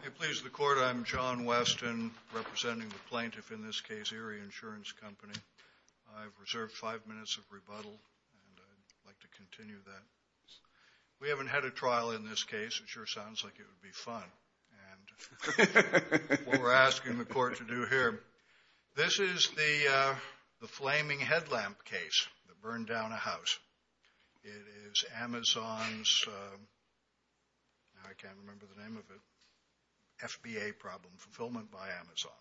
May it please the Court, I'm John Weston, representing the plaintiff in this case, Erie Insurance Company. I've reserved five minutes of rebuttal, and I'd like to continue that. We haven't had a trial in this case. It sure sounds like it would be fun. What we're asking the Court to do here, this is the flaming headlamp case that burned down a house. It is Amazon's, I can't remember the name of it, FBA problem fulfillment by Amazon.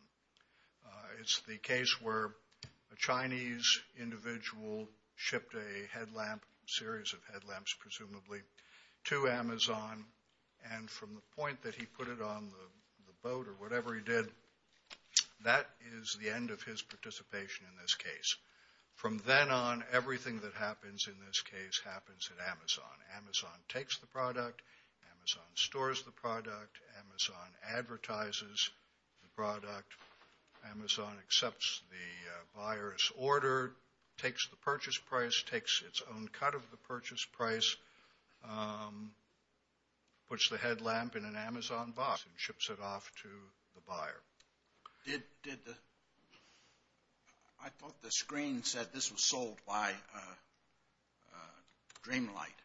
It's the case where a Chinese individual shipped a series of headlamps, presumably, to Amazon, and from the point that he put it on the boat or whatever he did, that is the end of his participation in this case. From then on, everything that happens in this case happens at Amazon. Amazon takes the product, Amazon stores the product, Amazon advertises the product, Amazon accepts the buyer's order, takes the purchase price, takes its own cut of the purchase price, puts the headlamp in an Amazon box, and ships it off to the buyer. I thought the screen said this was sold by Dreamlight.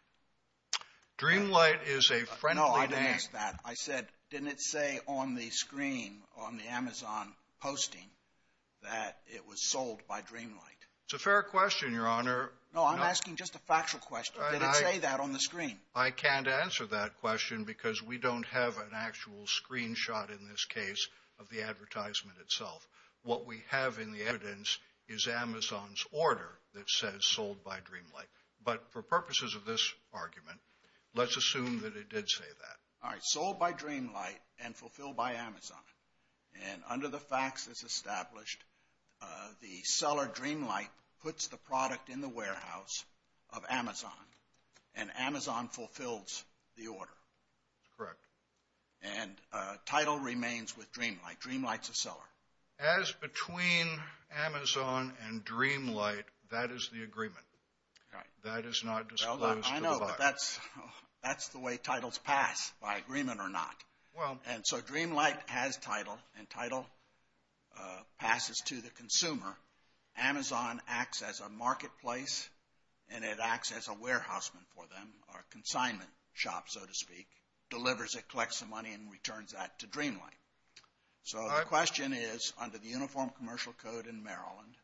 Dreamlight is a friendly name. No, I didn't ask that. I said, didn't it say on the screen on the Amazon posting that it was sold by Dreamlight? It's a fair question, Your Honor. No, I'm asking just a factual question. Did it say that on the screen? I can't answer that question because we don't have an actual screenshot in this order that says sold by Dreamlight, but for purposes of this argument, let's assume that it did say that. All right, sold by Dreamlight and fulfilled by Amazon, and under the facts that's established, the seller, Dreamlight, puts the product in the warehouse of Amazon, and Amazon fulfills the order. That's correct. And title remains with Dreamlight. Dreamlight's the seller. As between Amazon and Dreamlight, that is the agreement. That is not disclosed to the buyer. I know, but that's the way titles pass, by agreement or not. And so Dreamlight has title, and title passes to the consumer. Amazon acts as a marketplace, and it acts as a warehouseman for them, or a consignment shop, so to speak, delivers it, collects the money, and returns that to Dreamlight. The question is, under the Uniform Commercial Code in Maryland,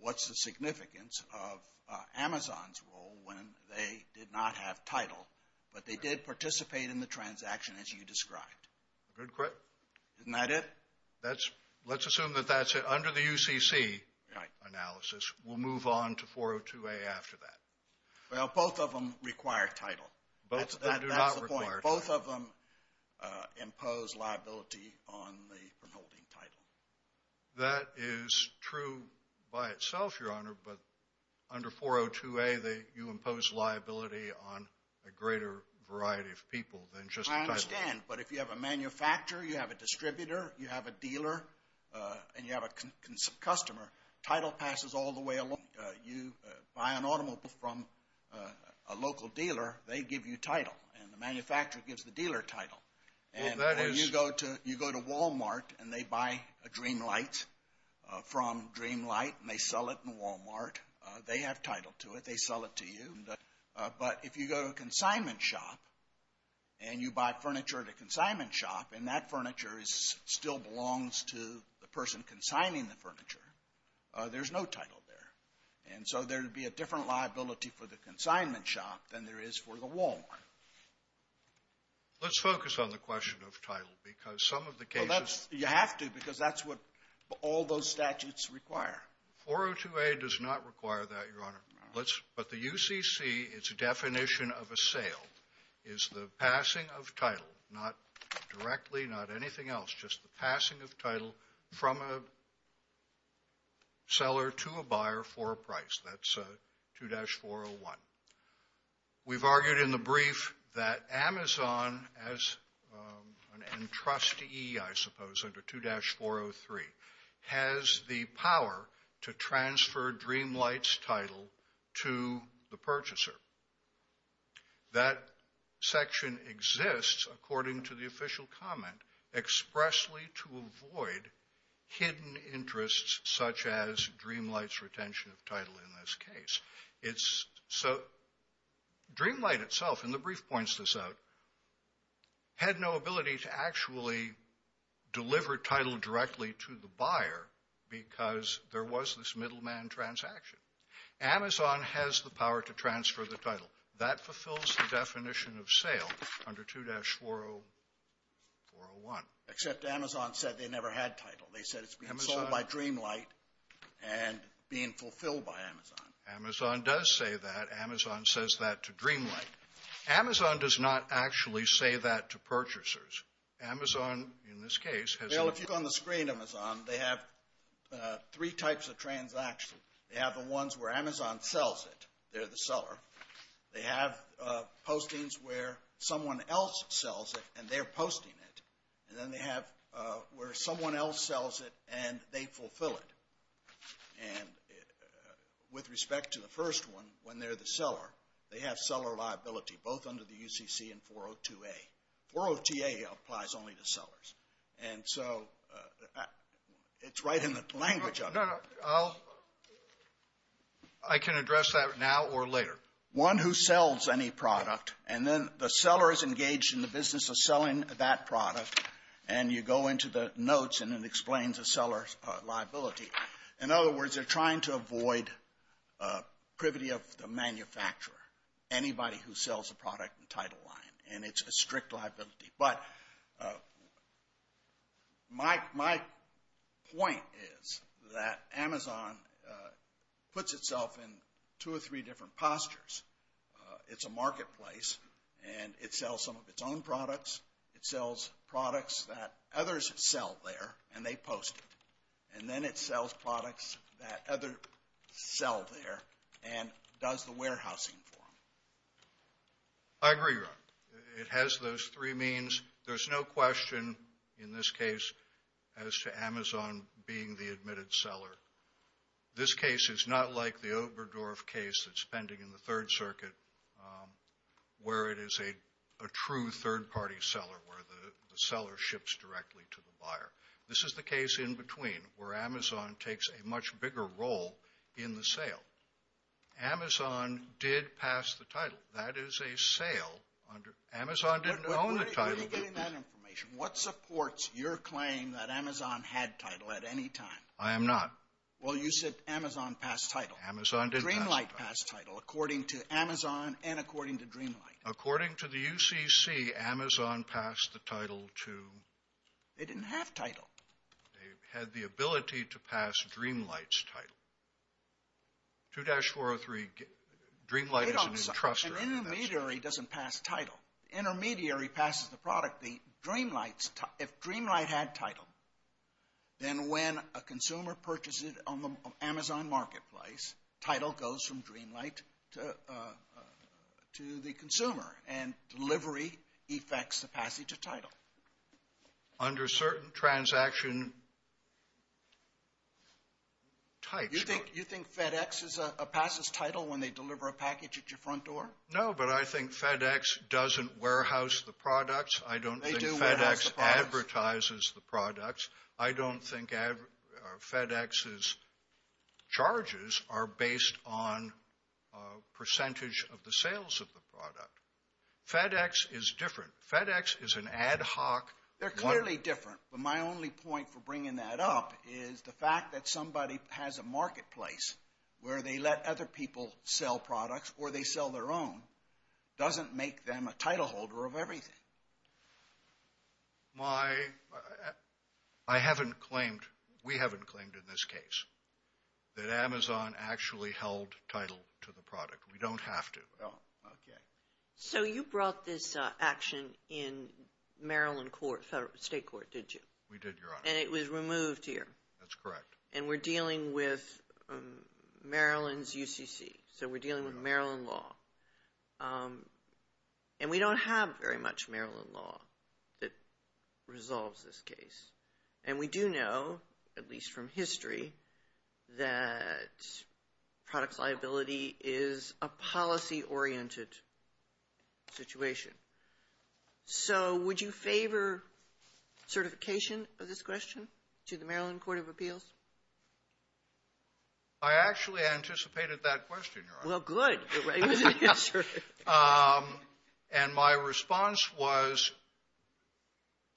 what's the significance of Amazon's role when they did not have title, but they did participate in the transaction as you described? Isn't that it? Let's assume that that's it. Under the UCC analysis, we'll move on to 402A after that. Well, both of them require title. That's the point. Both of them impose liability on the holding title. That is true by itself, Your Honor, but under 402A, you impose liability on a greater variety of people than just the title. I understand, but if you have a manufacturer, you have a distributor, you have a dealer, and you have a customer, title passes all the way along. You buy an automobile from a local dealer, they give you title, and the manufacturer gives the dealer title. And you go to Walmart, and they buy a Dreamlight from Dreamlight, and they sell it in Walmart. They have title to it. They sell it to you. But if you go to a consignment shop, and you buy furniture at a consignment shop, and that furniture still belongs to the person consigning the furniture, there's no title there. And so there'd be a different liability for the Let's focus on the question of title because some of the cases... Well, you have to because that's what all those statutes require. 402A does not require that, Your Honor. But the UCC, its definition of a sale is the passing of title, not directly, not anything else, just the passing of title from a We've argued in the brief that Amazon, as an entrustee, I suppose, under 2-403, has the power to transfer Dreamlight's title to the purchaser. That section exists, according to the official comment, expressly to avoid hidden interests such as Dreamlight's retention of title in this case. So Dreamlight itself, and the brief points this out, had no ability to actually deliver title directly to the buyer because there was this middleman transaction. Amazon has the power to transfer the title. That never had title. They said it's being sold by Dreamlight and being fulfilled by Amazon. Amazon does say that. Amazon says that to Dreamlight. Amazon does not actually say that to purchasers. Amazon, in this case, has... Well, if you look on the screen, Amazon, they have three types of transactions. They have the ones where Amazon sells it. They're the seller. They have postings where someone else sells it, and they're posting it. And then they have where someone else sells it, and they fulfill it. And with respect to the first one, when they're the seller, they have seller liability, both under the UCC and 402A. 402A applies only to sellers. And so it's right in the language of it. No, no. I can address that now or later. One who sells any product, and then the seller is engaged in the business of selling that product, and you go into the notes, and it explains a seller's liability. In other words, they're trying to avoid privity of the manufacturer, anybody who sells a product in Title IX, and it's a strict liability. But my point is that Amazon puts itself in two or three different postures. It's a marketplace, and it sells some of its own products. It sells products that others sell there, and they post it. And then it sells products that others sell there, and does the warehousing for them. I agree, Ron. It has those three means. There's no question in this case as to Amazon being the admitted seller. This case is not like the Oberdorf case that's pending in the Third Circuit, where it is a true third-party seller, where the seller ships directly to the buyer. This is the case in between, where Amazon takes a much bigger role in the sale. Amazon did pass the title. That is a sale. Amazon didn't own the title. Where are you getting that information? What supports your claim that Amazon had title at any time? I am not. Well, you said Amazon passed title. Amazon didn't pass title. Dreamlight passed title, according to Amazon and according to Dreamlight. According to the UCC, Amazon passed the title to... They didn't have title. They had the ability to pass Dreamlight's title. 2-403, Dreamlight is an entrustor. An intermediary doesn't pass title. The intermediary passes the product. If Dreamlight had title, then when a consumer purchases it on the Amazon marketplace, title goes from Dreamlight to the consumer, and delivery effects the passage of title. Under certain transaction types... You think FedEx is a passes title when they deliver a package at your front door? No, but I think FedEx doesn't warehouse the products. I don't think FedEx advertises the products. I don't think FedEx's charges are based on of the sales of the product. FedEx is different. FedEx is an ad hoc... They're clearly different, but my only point for bringing that up is the fact that somebody has a marketplace where they let other people sell products or they sell their own doesn't make them a title holder of everything. I haven't claimed, we haven't claimed in this case that Amazon actually held title to the product. We don't have to. So you brought this action in Maryland State Court, did you? We did, Your Honor. And it was removed here? That's correct. And we're dealing with Maryland's UCC, so we're dealing with Maryland law. And we don't have very much Maryland law that resolves this case. And we do know, at least from history, that product liability is a policy-oriented situation. So would you favor certification of this question to the Maryland Court of Appeals? I actually anticipated that question, Your Honor. Well, good. And my response was,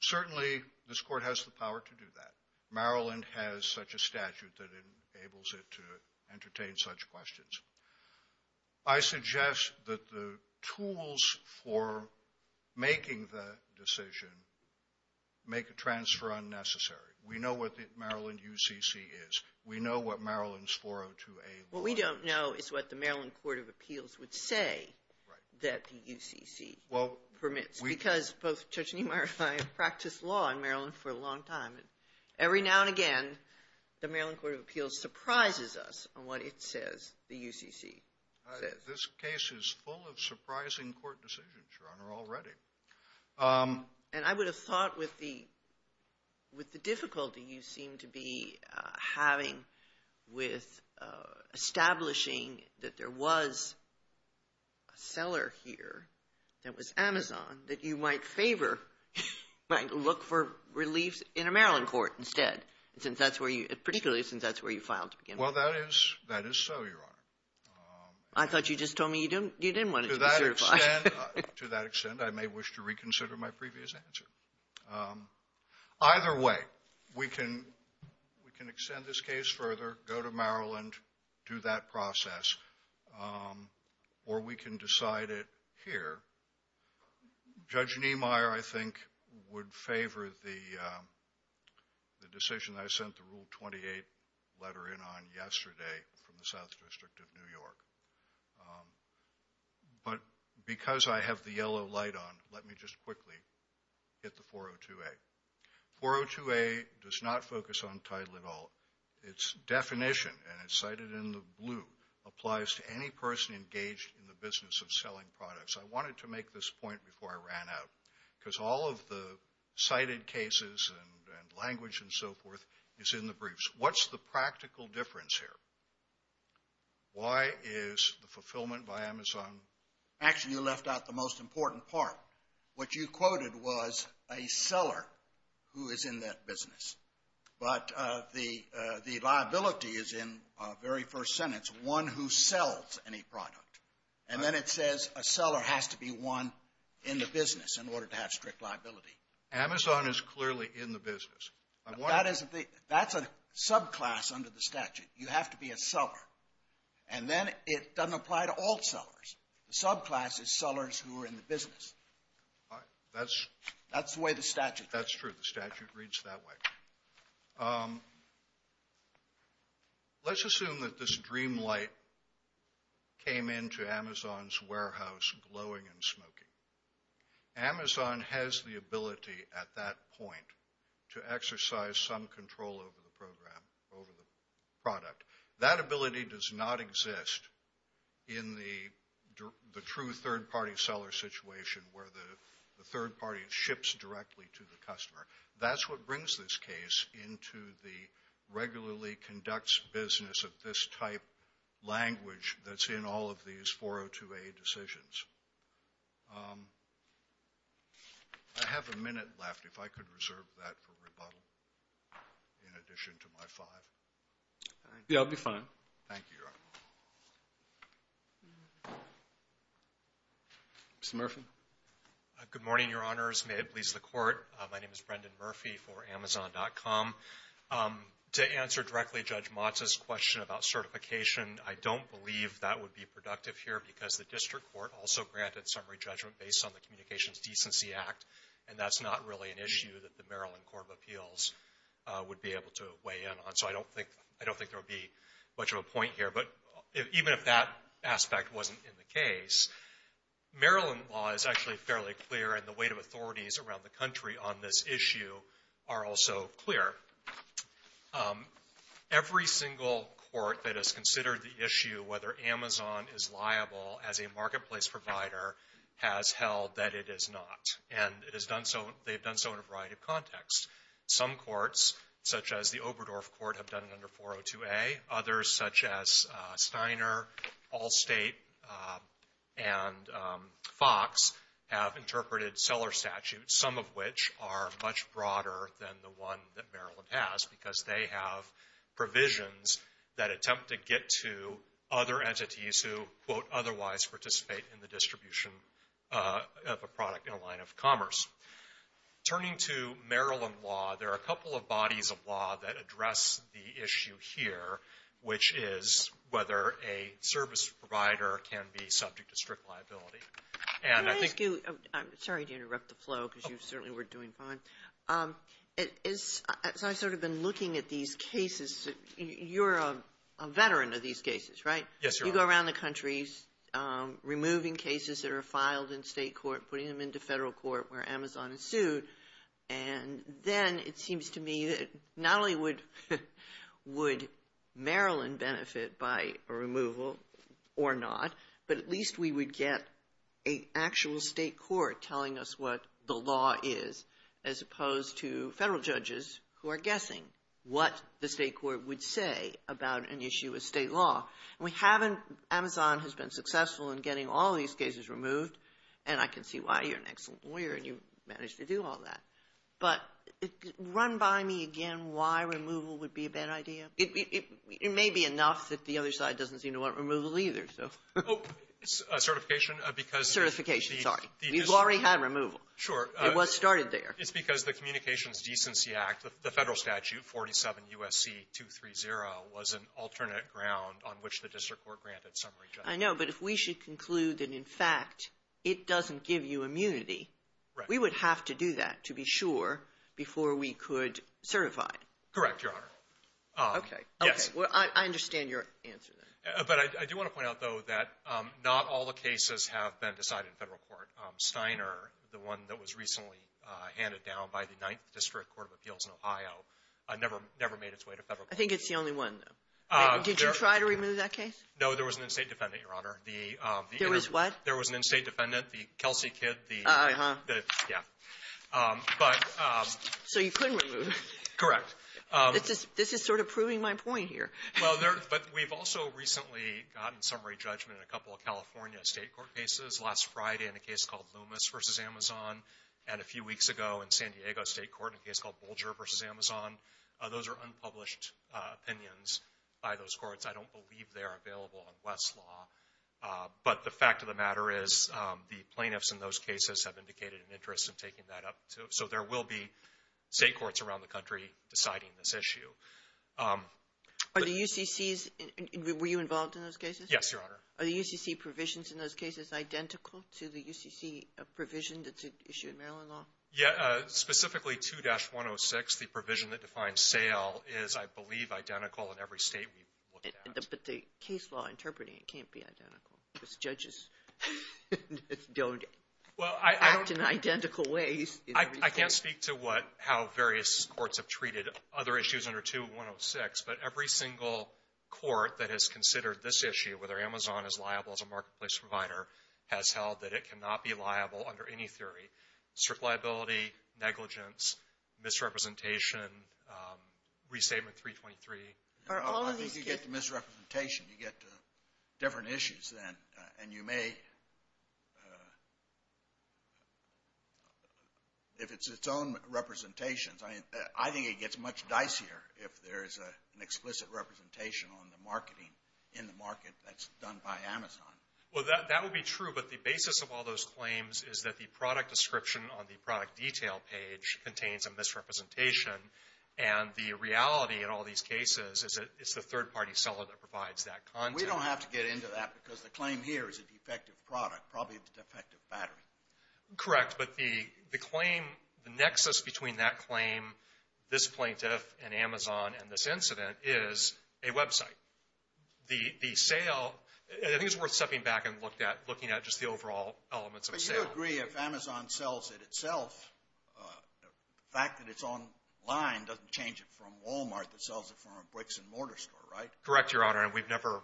certainly this court has the power to do that. Maryland has such a statute that it enables it to entertain such questions. I suggest that the tools for making the decision make a transfer unnecessary. We know what the Maryland UCC is. We know what Maryland's 402A law is. What we don't know is what the Maryland Court of Appeals would say that the UCC permits, because both Judge Niemeyer and I have practiced law in Maryland for a long time. And every now and again, the Maryland Court of Appeals surprises us on what it says the UCC says. This case is full of surprising court decisions, Your Honor, already. And I would have thought with the difficulty you seem to be having with establishing that there was a seller here that was Amazon that you might favor, might look for reliefs in the Maryland Court instead, particularly since that's where you filed to begin with. Well, that is so, Your Honor. I thought you just told me you didn't want it to be certified. To that extent, I may wish to reconsider my previous answer. Either way, we can extend this case further, go to Maryland, do that process, or we can decide it here. Judge Niemeyer, I think, would favor the decision I sent the Rule 28 letter in on yesterday from the South District of New York. But because I have the yellow light on, let me just quickly hit the 402A. 402A does not focus on title at all. Its definition, and it's cited in the blue, applies to any person engaged in the business of selling products. I wanted to make this point before I ran out, because all of the cited cases and language and so forth is in the briefs. What's the practical difference here? Why is the fulfillment by Amazon? Actually, you left out the most important part. What you quoted was a seller who is in that business. But the liability is in the very first sentence, one who sells any product. And then it says a seller has to be one in the business in order to have strict liability. Amazon is clearly in the business. That's a subclass under the statute. You have to be a seller. And then it doesn't apply to all sellers. The subclass is sellers who are in the business. That's the way the statute reads. That's true. The statute reads that way. Let's assume that this dream light came into Amazon's warehouse glowing and smoking. Amazon has the ability at that point to exercise some control over the program, over the product. That ability does not exist in the true third party seller situation where the third party ships directly to the customer. That's what brings this case into the regularly conducts business of this type language that's in all of these 402A decisions. I have a minute left. If I could reserve that for rebuttal in addition to my five. Yeah, I'll be fine. Thank you, Your Honor. Mr. Murphy. Good morning, Your Honors. May it please the Court. My name is Brendan Murphy for Amazon.com. To answer directly Judge Motta's question about certification, I don't believe that would be productive here because the district court also granted summary judgment based on the Communications Decency Act. And that's not really an issue that the Maryland Court of Appeals would be able to weigh in on. So I don't think there would be much of a point here. Even if that aspect wasn't in the case, Maryland law is actually fairly clear, and the weight of authorities around the country on this issue are also clear. Every single court that has considered the issue whether Amazon is liable as a marketplace provider has held that it is not. And they've done so in a variety of contexts. Some courts, such as the Oberdorf Court, have done it under 402A. Others, such as Steiner, Allstate, and Fox, have interpreted seller statutes, some of which are much broader than the one that Maryland has because they have provisions that attempt to get to other entities who, quote, otherwise participate in the distribution of a product in a line of commerce. Turning to Maryland law, there are a couple of bodies of law that address the issue here, which is whether a service provider can be subject to strict liability. And I think you Kagan. I'm sorry to interrupt the flow because you certainly were doing fine. As I've sort of been looking at these cases, you're a veteran of these cases, right? You go around the country removing cases that are filed in state court, putting them into federal court where Amazon is sued. And then it seems to me that not only would Maryland benefit by a removal or not, but at least we would get an actual state court telling us what the law is, as opposed to federal judges who are guessing what the state court would say about an issue of state law. Amazon has been successful in getting all these cases removed, and I can see why. You're an excellent lawyer, and you managed to do all that. But run by me again why removal would be a bad idea. It may be enough that the other side doesn't seem to want removal either, so. Oh, certification because the — Certification, sorry. You've already had removal. Sure. It was started there. It's because the Communications Decency Act, the federal statute, 47 U.S.C. 230, was an alternate ground on which the district court granted summary judgment. I know, but if we should conclude that, in fact, it doesn't give you immunity, we would have to do that to be sure before we could certify. Correct, Your Honor. Okay. Yes. Well, I understand your answer then. But I do want to point out, though, that not all the cases have been decided in federal court. Steiner, the one that was recently handed down by the 9th District Court of Appeals in Ohio, never made its way to federal court. I think it's the only one, though. Did you try to remove that case? No, there was an in-state defendant, Your Honor. There was what? There was an in-state defendant, the Kelsey Kidd, the — Uh-huh. Yeah. But — So you couldn't remove it. Correct. This is sort of proving my point here. Well, there — but we've also recently gotten summary judgment in a couple of California state court cases, last Friday in a case called Loomis v. Amazon, and a few weeks ago in San Diego State Court in a case called Bolger v. Amazon. Those are unpublished opinions by those courts. I don't believe they are available in West's law. But the fact of the matter is the plaintiffs in those cases have indicated an interest in taking that up, too. So there will be state courts around the country deciding this issue. Are the UCCs — were you involved in those cases? Yes, Your Honor. Are the UCC provisions in those cases identical to the UCC provision that's issued in Maryland law? Yeah. Specifically, 2-106, the provision that defines sale, is, I believe, identical in every state we've looked at. But the case law interpreting it can't be identical. Because judges don't act in identical ways in every state. I can't speak to what — how various courts have treated other issues under 2-106. But every single court that has considered this issue, whether Amazon is liable as a marketplace provider, has held that it cannot be liable under any theory — strict liability, negligence, misrepresentation, re-statement 323. Are all of these — You get to misrepresentation. You get to different issues then. And you may — if it's its own representations, I think it gets much dicier if there is an explicit representation on the marketing in the market that's done by Amazon. Well, that would be true. But the basis of all those claims is that the product description on the product detail page contains a misrepresentation. And the reality in all these cases is that it's the third-party seller that provides that content. We don't have to get into that because the claim here is a defective product, probably a defective battery. Correct. But the claim — the nexus between that claim, this plaintiff, and Amazon, and this incident is a website. The sale — I think it's worth stepping back and looking at just the overall elements of sale. If Amazon sells it itself, the fact that it's online doesn't change it from Walmart that sells it from a bricks-and-mortar store, right? Correct, Your Honor. And we've never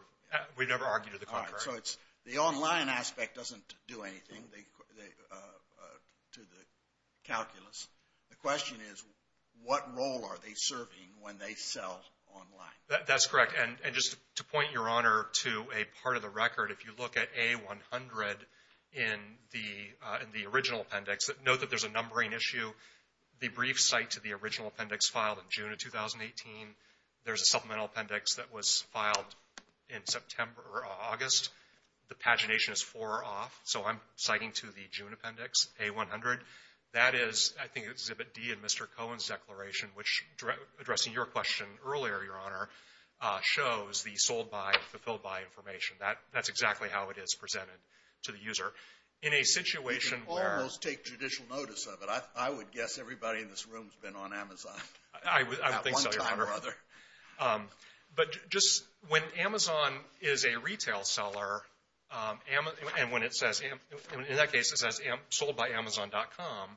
argued to the contrary. All right. So it's — the online aspect doesn't do anything to the calculus. The question is, what role are they serving when they sell online? That's correct. And just to point, Your Honor, to a part of the record, if you look at A100 in the original appendix, note that there's a numbering issue. The brief cite to the original appendix filed in June of 2018. There's a supplemental appendix that was filed in September or August. The pagination is four off. So I'm citing to the June appendix, A100. That is, I think, Exhibit D in Mr. Cohen's declaration, which, addressing your question earlier, Your Honor, shows the sold-by and fulfilled-by information. That's exactly how it is presented to the user. In a situation where — You can almost take judicial notice of it. I would guess everybody in this room has been on Amazon at one time or other. I would think so, Your Honor. But just — when Amazon is a retail seller, and when it says — in that case, it says soldbyamazon.com,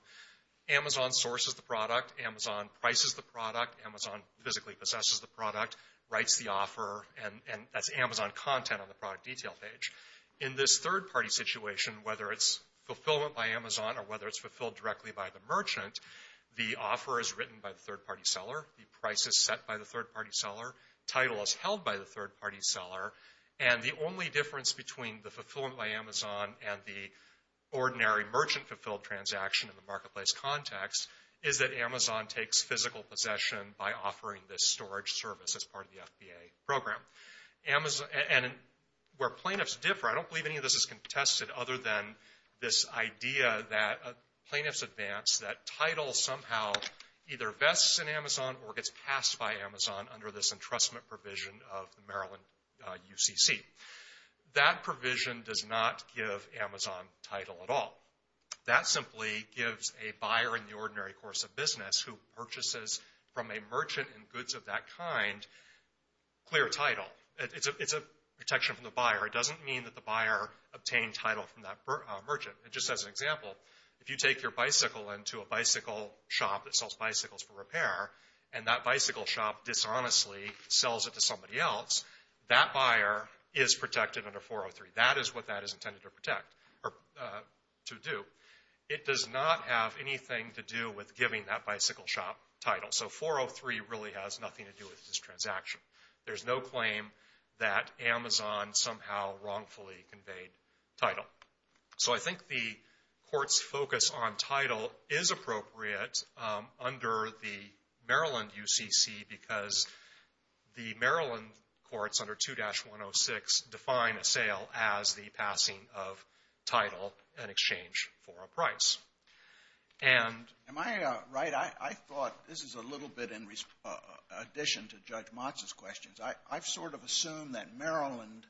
Amazon sources the product. Amazon prices the product. Amazon physically possesses the product, writes the offer. And that's Amazon content on the product detail page. In this third-party situation, whether it's fulfillment by Amazon or whether it's fulfilled directly by the merchant, the offer is written by the third-party seller. The price is set by the third-party seller. Title is held by the third-party seller. And the only difference between the fulfillment by Amazon and the ordinary merchant-fulfilled transaction in the marketplace context is that Amazon takes physical possession by offering this storage service as part of the FBA program. And where plaintiffs differ, I don't believe any of this is contested other than this idea that plaintiffs advance that title somehow either vests in Amazon or gets passed by Amazon under this entrustment provision of the Maryland UCC. That provision does not give Amazon title at all. That simply gives a buyer in the ordinary course of business who purchases from a merchant and goods of that kind clear title. It's a protection from the buyer. It doesn't mean that the buyer obtained title from that merchant. And just as an example, if you take your bicycle into a bicycle shop that sells bicycles for repair and that bicycle shop dishonestly sells it to somebody else, that buyer is protected under 403. That is what that is intended to protect or to do. It does not have anything to do with giving that bicycle shop title. So 403 really has nothing to do with this transaction. There's no claim that Amazon somehow wrongfully conveyed title. So I think the court's focus on title is appropriate under the Maryland UCC because the Maryland courts under 2-106 define a sale as the passing of title in exchange for a price. And am I right? I thought this is a little bit in addition to Judge Motz's questions. I've sort of assumed that Maryland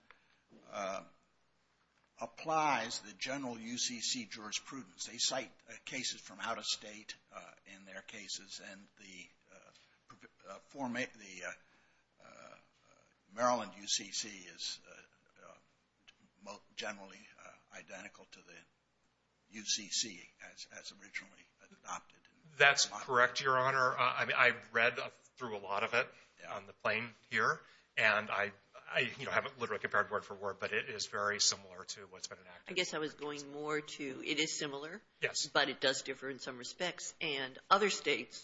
applies the general UCC jurisprudence. They cite cases from out of state in their cases and the Maryland UCC is generally identical to the UCC as originally adopted. That's correct, Your Honor. I've read through a lot of it on the plane here and I haven't literally compared word for word, but it is very similar to what's been enacted. I guess I was going more to it is similar, but it does differ in some respects. And other states,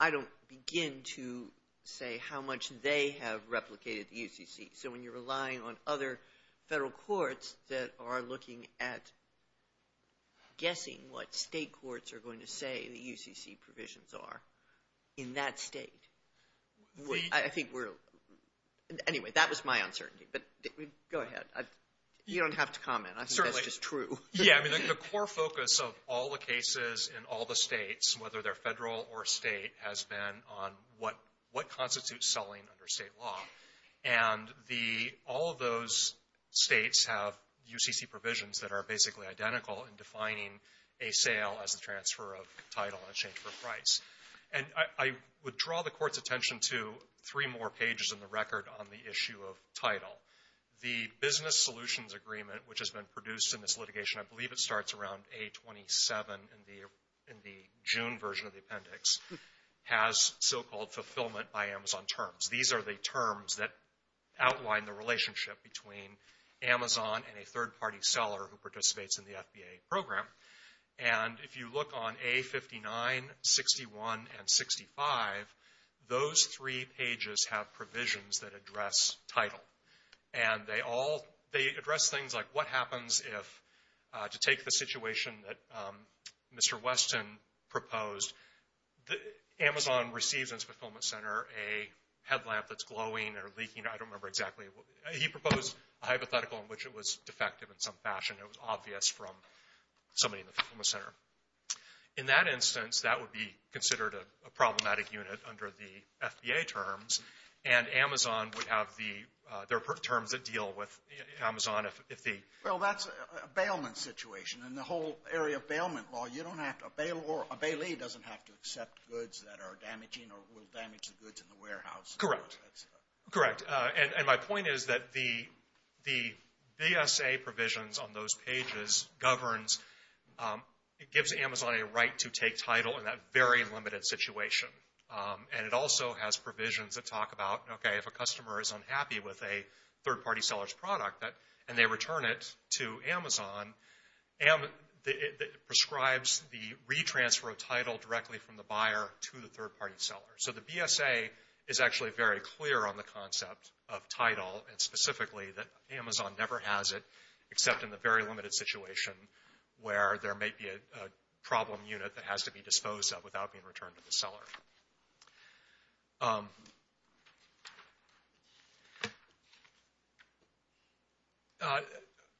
I don't begin to say how much they have replicated the UCC. So when you're relying on other federal courts that are looking at guessing what state courts are going to say the UCC provisions are in that state, I think we're... Anyway, that was my uncertainty, but go ahead. You don't have to comment. I think that's just true. Yeah, I mean, the core focus of all the cases in all the states, whether they're federal or state, has been on what constitutes selling under state law. And all of those states have UCC provisions that are basically identical in defining a sale as a transfer of title in exchange for price. And I would draw the court's attention to three more pages in the record on the issue of title. The business solutions agreement, which has been produced in this litigation, I believe it starts around A27 in the June version of the appendix, has so-called fulfillment by Amazon terms. These are the terms that outline the relationship between Amazon and a third-party seller who participates in the FBA program. And if you look on A59, 61, and 65, those three pages have provisions that address title. And they all, they address things like what happens if, to take the situation that Mr. Weston proposed, Amazon receives in its fulfillment center a headlamp that's glowing or leaking. I don't remember exactly. He proposed a hypothetical in which it was defective in some fashion. It was obvious from somebody in the fulfillment center. In that instance, that would be considered a problematic unit under the FBA terms. And Amazon would have the, there are terms that deal with Amazon if the- Well, that's a bailment situation. In the whole area of bailment law, you don't have to, a bailee doesn't have to accept goods that are damaging or will damage the goods in the warehouse. Correct. Correct. And my point is that the BSA provisions on those pages governs, it gives Amazon a right to take title in that very limited situation. And it also has provisions that talk about, okay, if a customer is unhappy with a third-party seller's product and they return it to Amazon, it prescribes the re-transfer of title directly from the buyer to the third-party seller. So the BSA is actually very clear on the concept of title and specifically that Amazon never has it except in the very limited situation where there may be a problem unit that has to be disposed of without being returned to the seller.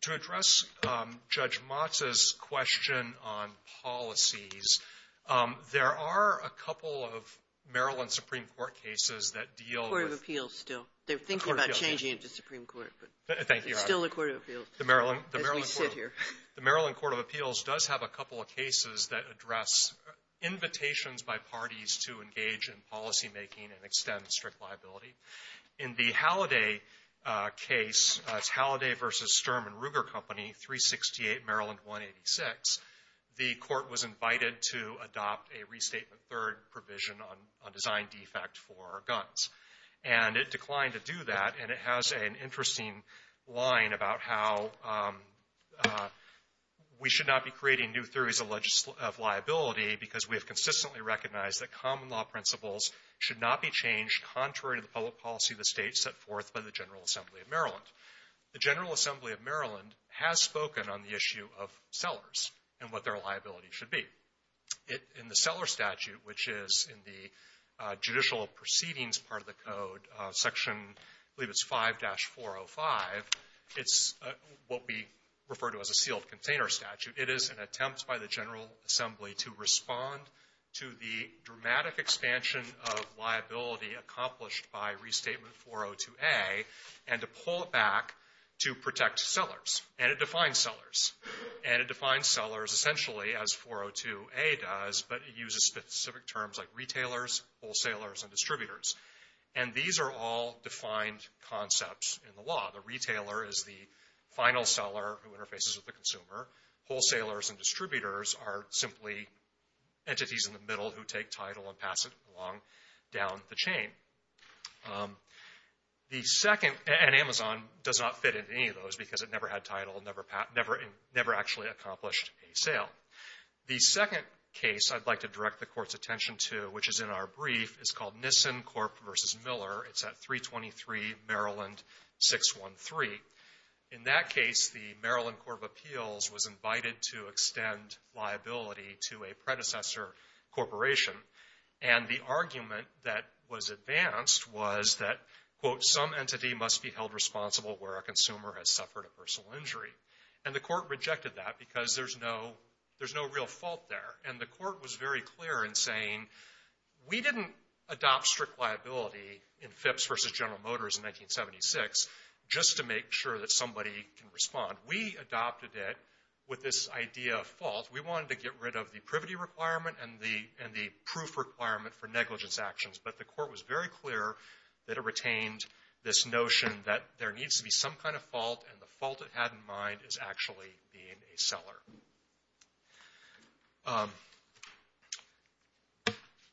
To address Judge Motz's question on policies, there are a couple of Maryland Supreme Court cases that deal with- Court of Appeals still. They're thinking about changing it to Supreme Court, but- Thank you, Your Honor. It's still the Court of Appeals as we sit here. The Maryland Court of Appeals does have a couple of cases that address invitations by parties to engage in policymaking and extend strict liability. In the Halliday case, it's Halliday v. Sturm and Ruger Company, 368 Maryland 186, the court was invited to adopt a restatement third provision on design defect for guns. And it declined to do that, and it has an interesting line about how we should not be creating new theories of liability because we have consistently recognized that common public policy of the state set forth by the General Assembly of Maryland. The General Assembly of Maryland has spoken on the issue of sellers and what their liability should be. In the seller statute, which is in the judicial proceedings part of the code, section, I believe it's 5-405, it's what we refer to as a sealed container statute. It is an attempt by the General Assembly to respond to the dramatic expansion of liability accomplished by Restatement 402A and to pull it back to protect sellers. And it defines sellers. And it defines sellers essentially as 402A does, but it uses specific terms like retailers, wholesalers, and distributors. And these are all defined concepts in the law. The retailer is the final seller who interfaces with the consumer. Wholesalers and distributors are simply entities in the middle who take title and pass it along down the chain. The second, and Amazon does not fit into any of those because it never had title, never actually accomplished a sale. The second case I'd like to direct the Court's attention to, which is in our brief, is called Nissen Corp v. Miller. It's at 323 Maryland 613. In that case, the Maryland Court of Appeals was invited to extend liability to a predecessor corporation. And the argument that was advanced was that, quote, some entity must be held responsible where a consumer has suffered a personal injury. And the Court rejected that because there's no real fault there. And the Court was very clear in saying, we didn't adopt strict liability in Phipps v. General Motors in 1976 just to make sure that somebody can respond. We adopted it with this idea of fault. We wanted to get rid of the privity requirement and the proof requirement for negligence actions. But the Court was very clear that it retained this notion that there needs to be some kind of fault. And the fault it had in mind is actually being a seller.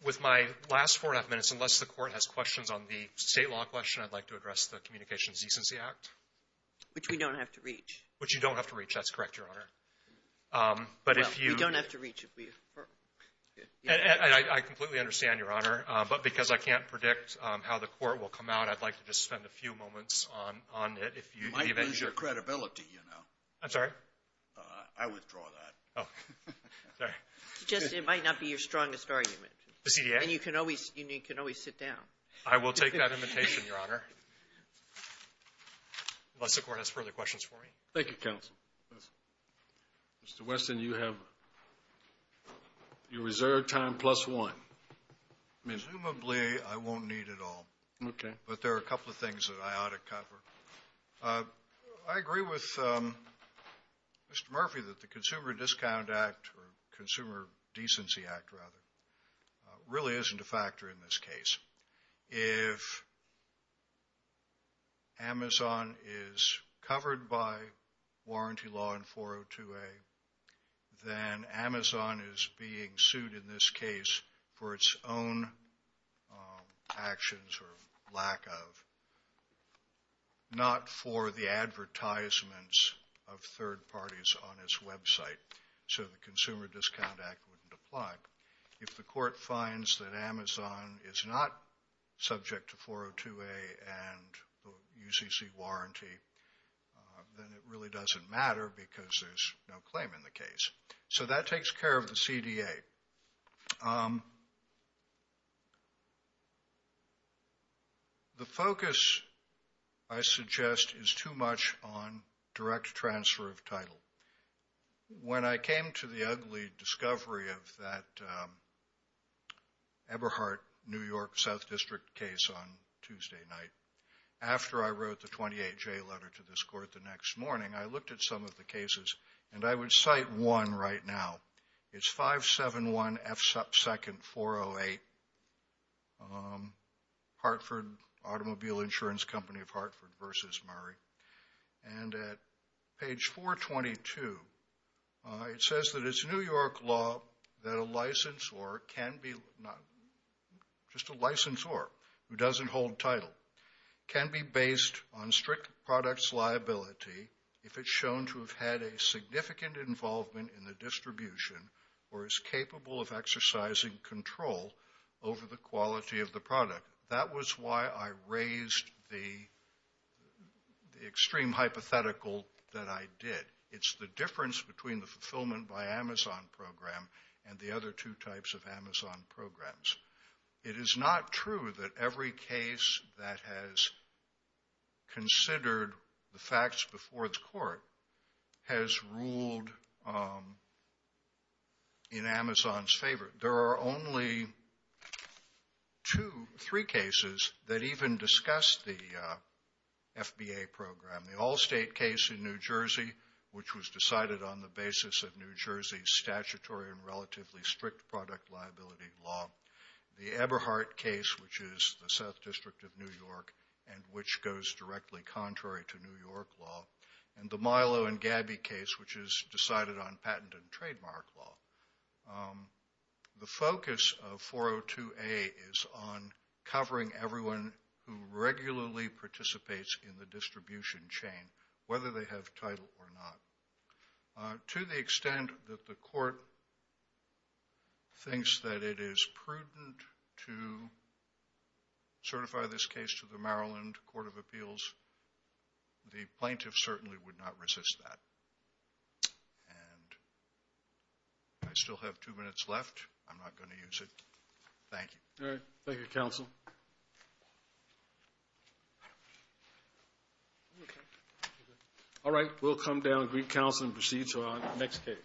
With my last four and a half minutes, unless the Court has questions on the State law question, I'd like to address the Communications Decency Act. Sotomayor, which we don't have to reach. Which you don't have to reach. That's correct, Your Honor. Well, we don't have to reach it. I completely understand, Your Honor. But because I can't predict how the Court will come out, I'd like to just spend a few moments on it. You might lose your credibility, you know. I'm sorry? I withdraw that. Oh, sorry. Just it might not be your strongest argument. The CDA? And you can always sit down. I will take that invitation, Your Honor. Unless the Court has further questions for me. Thank you, counsel. Mr. Weston, you have your reserved time plus one. Presumably, I won't need it all. Okay. But there are a couple of things that I ought to cover. I agree with Mr. Murphy that the Consumer Discount Act, or Consumer Decency Act, rather, really isn't a factor in this case. If Amazon is covered by warranty law in 402A, then Amazon is being sued in this case for its own actions or lack of, not for the advertisements of third parties on its website. So the Consumer Discount Act wouldn't apply. If the Court finds that Amazon is not subject to 402A and the UCC warranty, then it really doesn't matter because there's no claim in the case. So that takes care of the CDA. The focus, I suggest, is too much on direct transfer of title. When I came to the ugly discovery of that Eberhardt, New York, South District case on Tuesday night, after I wrote the 28J letter to this Court the next morning, I looked at some of the cases, and I would cite one right now. It's 571F2nd408, Hartford Automobile Insurance Company of Hartford versus Murray. And at page 422, it says that it's New York law that a licensor can be, not just a licensor who doesn't hold title, can be based on strict product's liability if it's shown to have had a significant involvement in the distribution or is capable of exercising control over the quality of the product. That was why I raised the extreme hypothetical that I did. It's the difference between the fulfillment by Amazon program and the other two types of Amazon programs. It is not true that every case that has considered the facts before the Court has ruled in Amazon's favor. There are only two, three cases that even discuss the FBA program. The Allstate case in New Jersey, which was decided on the basis of New Jersey statutory and relatively strict product liability law. The Eberhardt case, which is the South District of New York and which goes directly contrary to New York law. And the Milo and Gabby case, which is decided on patent and trademark law. The focus of 402A is on covering everyone who regularly participates in the distribution chain, whether they have title or not. To the extent that the Court thinks that it is prudent to certify this case to the Maryland Court of Appeals, the plaintiff certainly would not resist that. And I still have two minutes left. I'm not going to use it. Thank you. All right. Thank you, counsel. All right. We'll come down and greet counsel and proceed to our next case.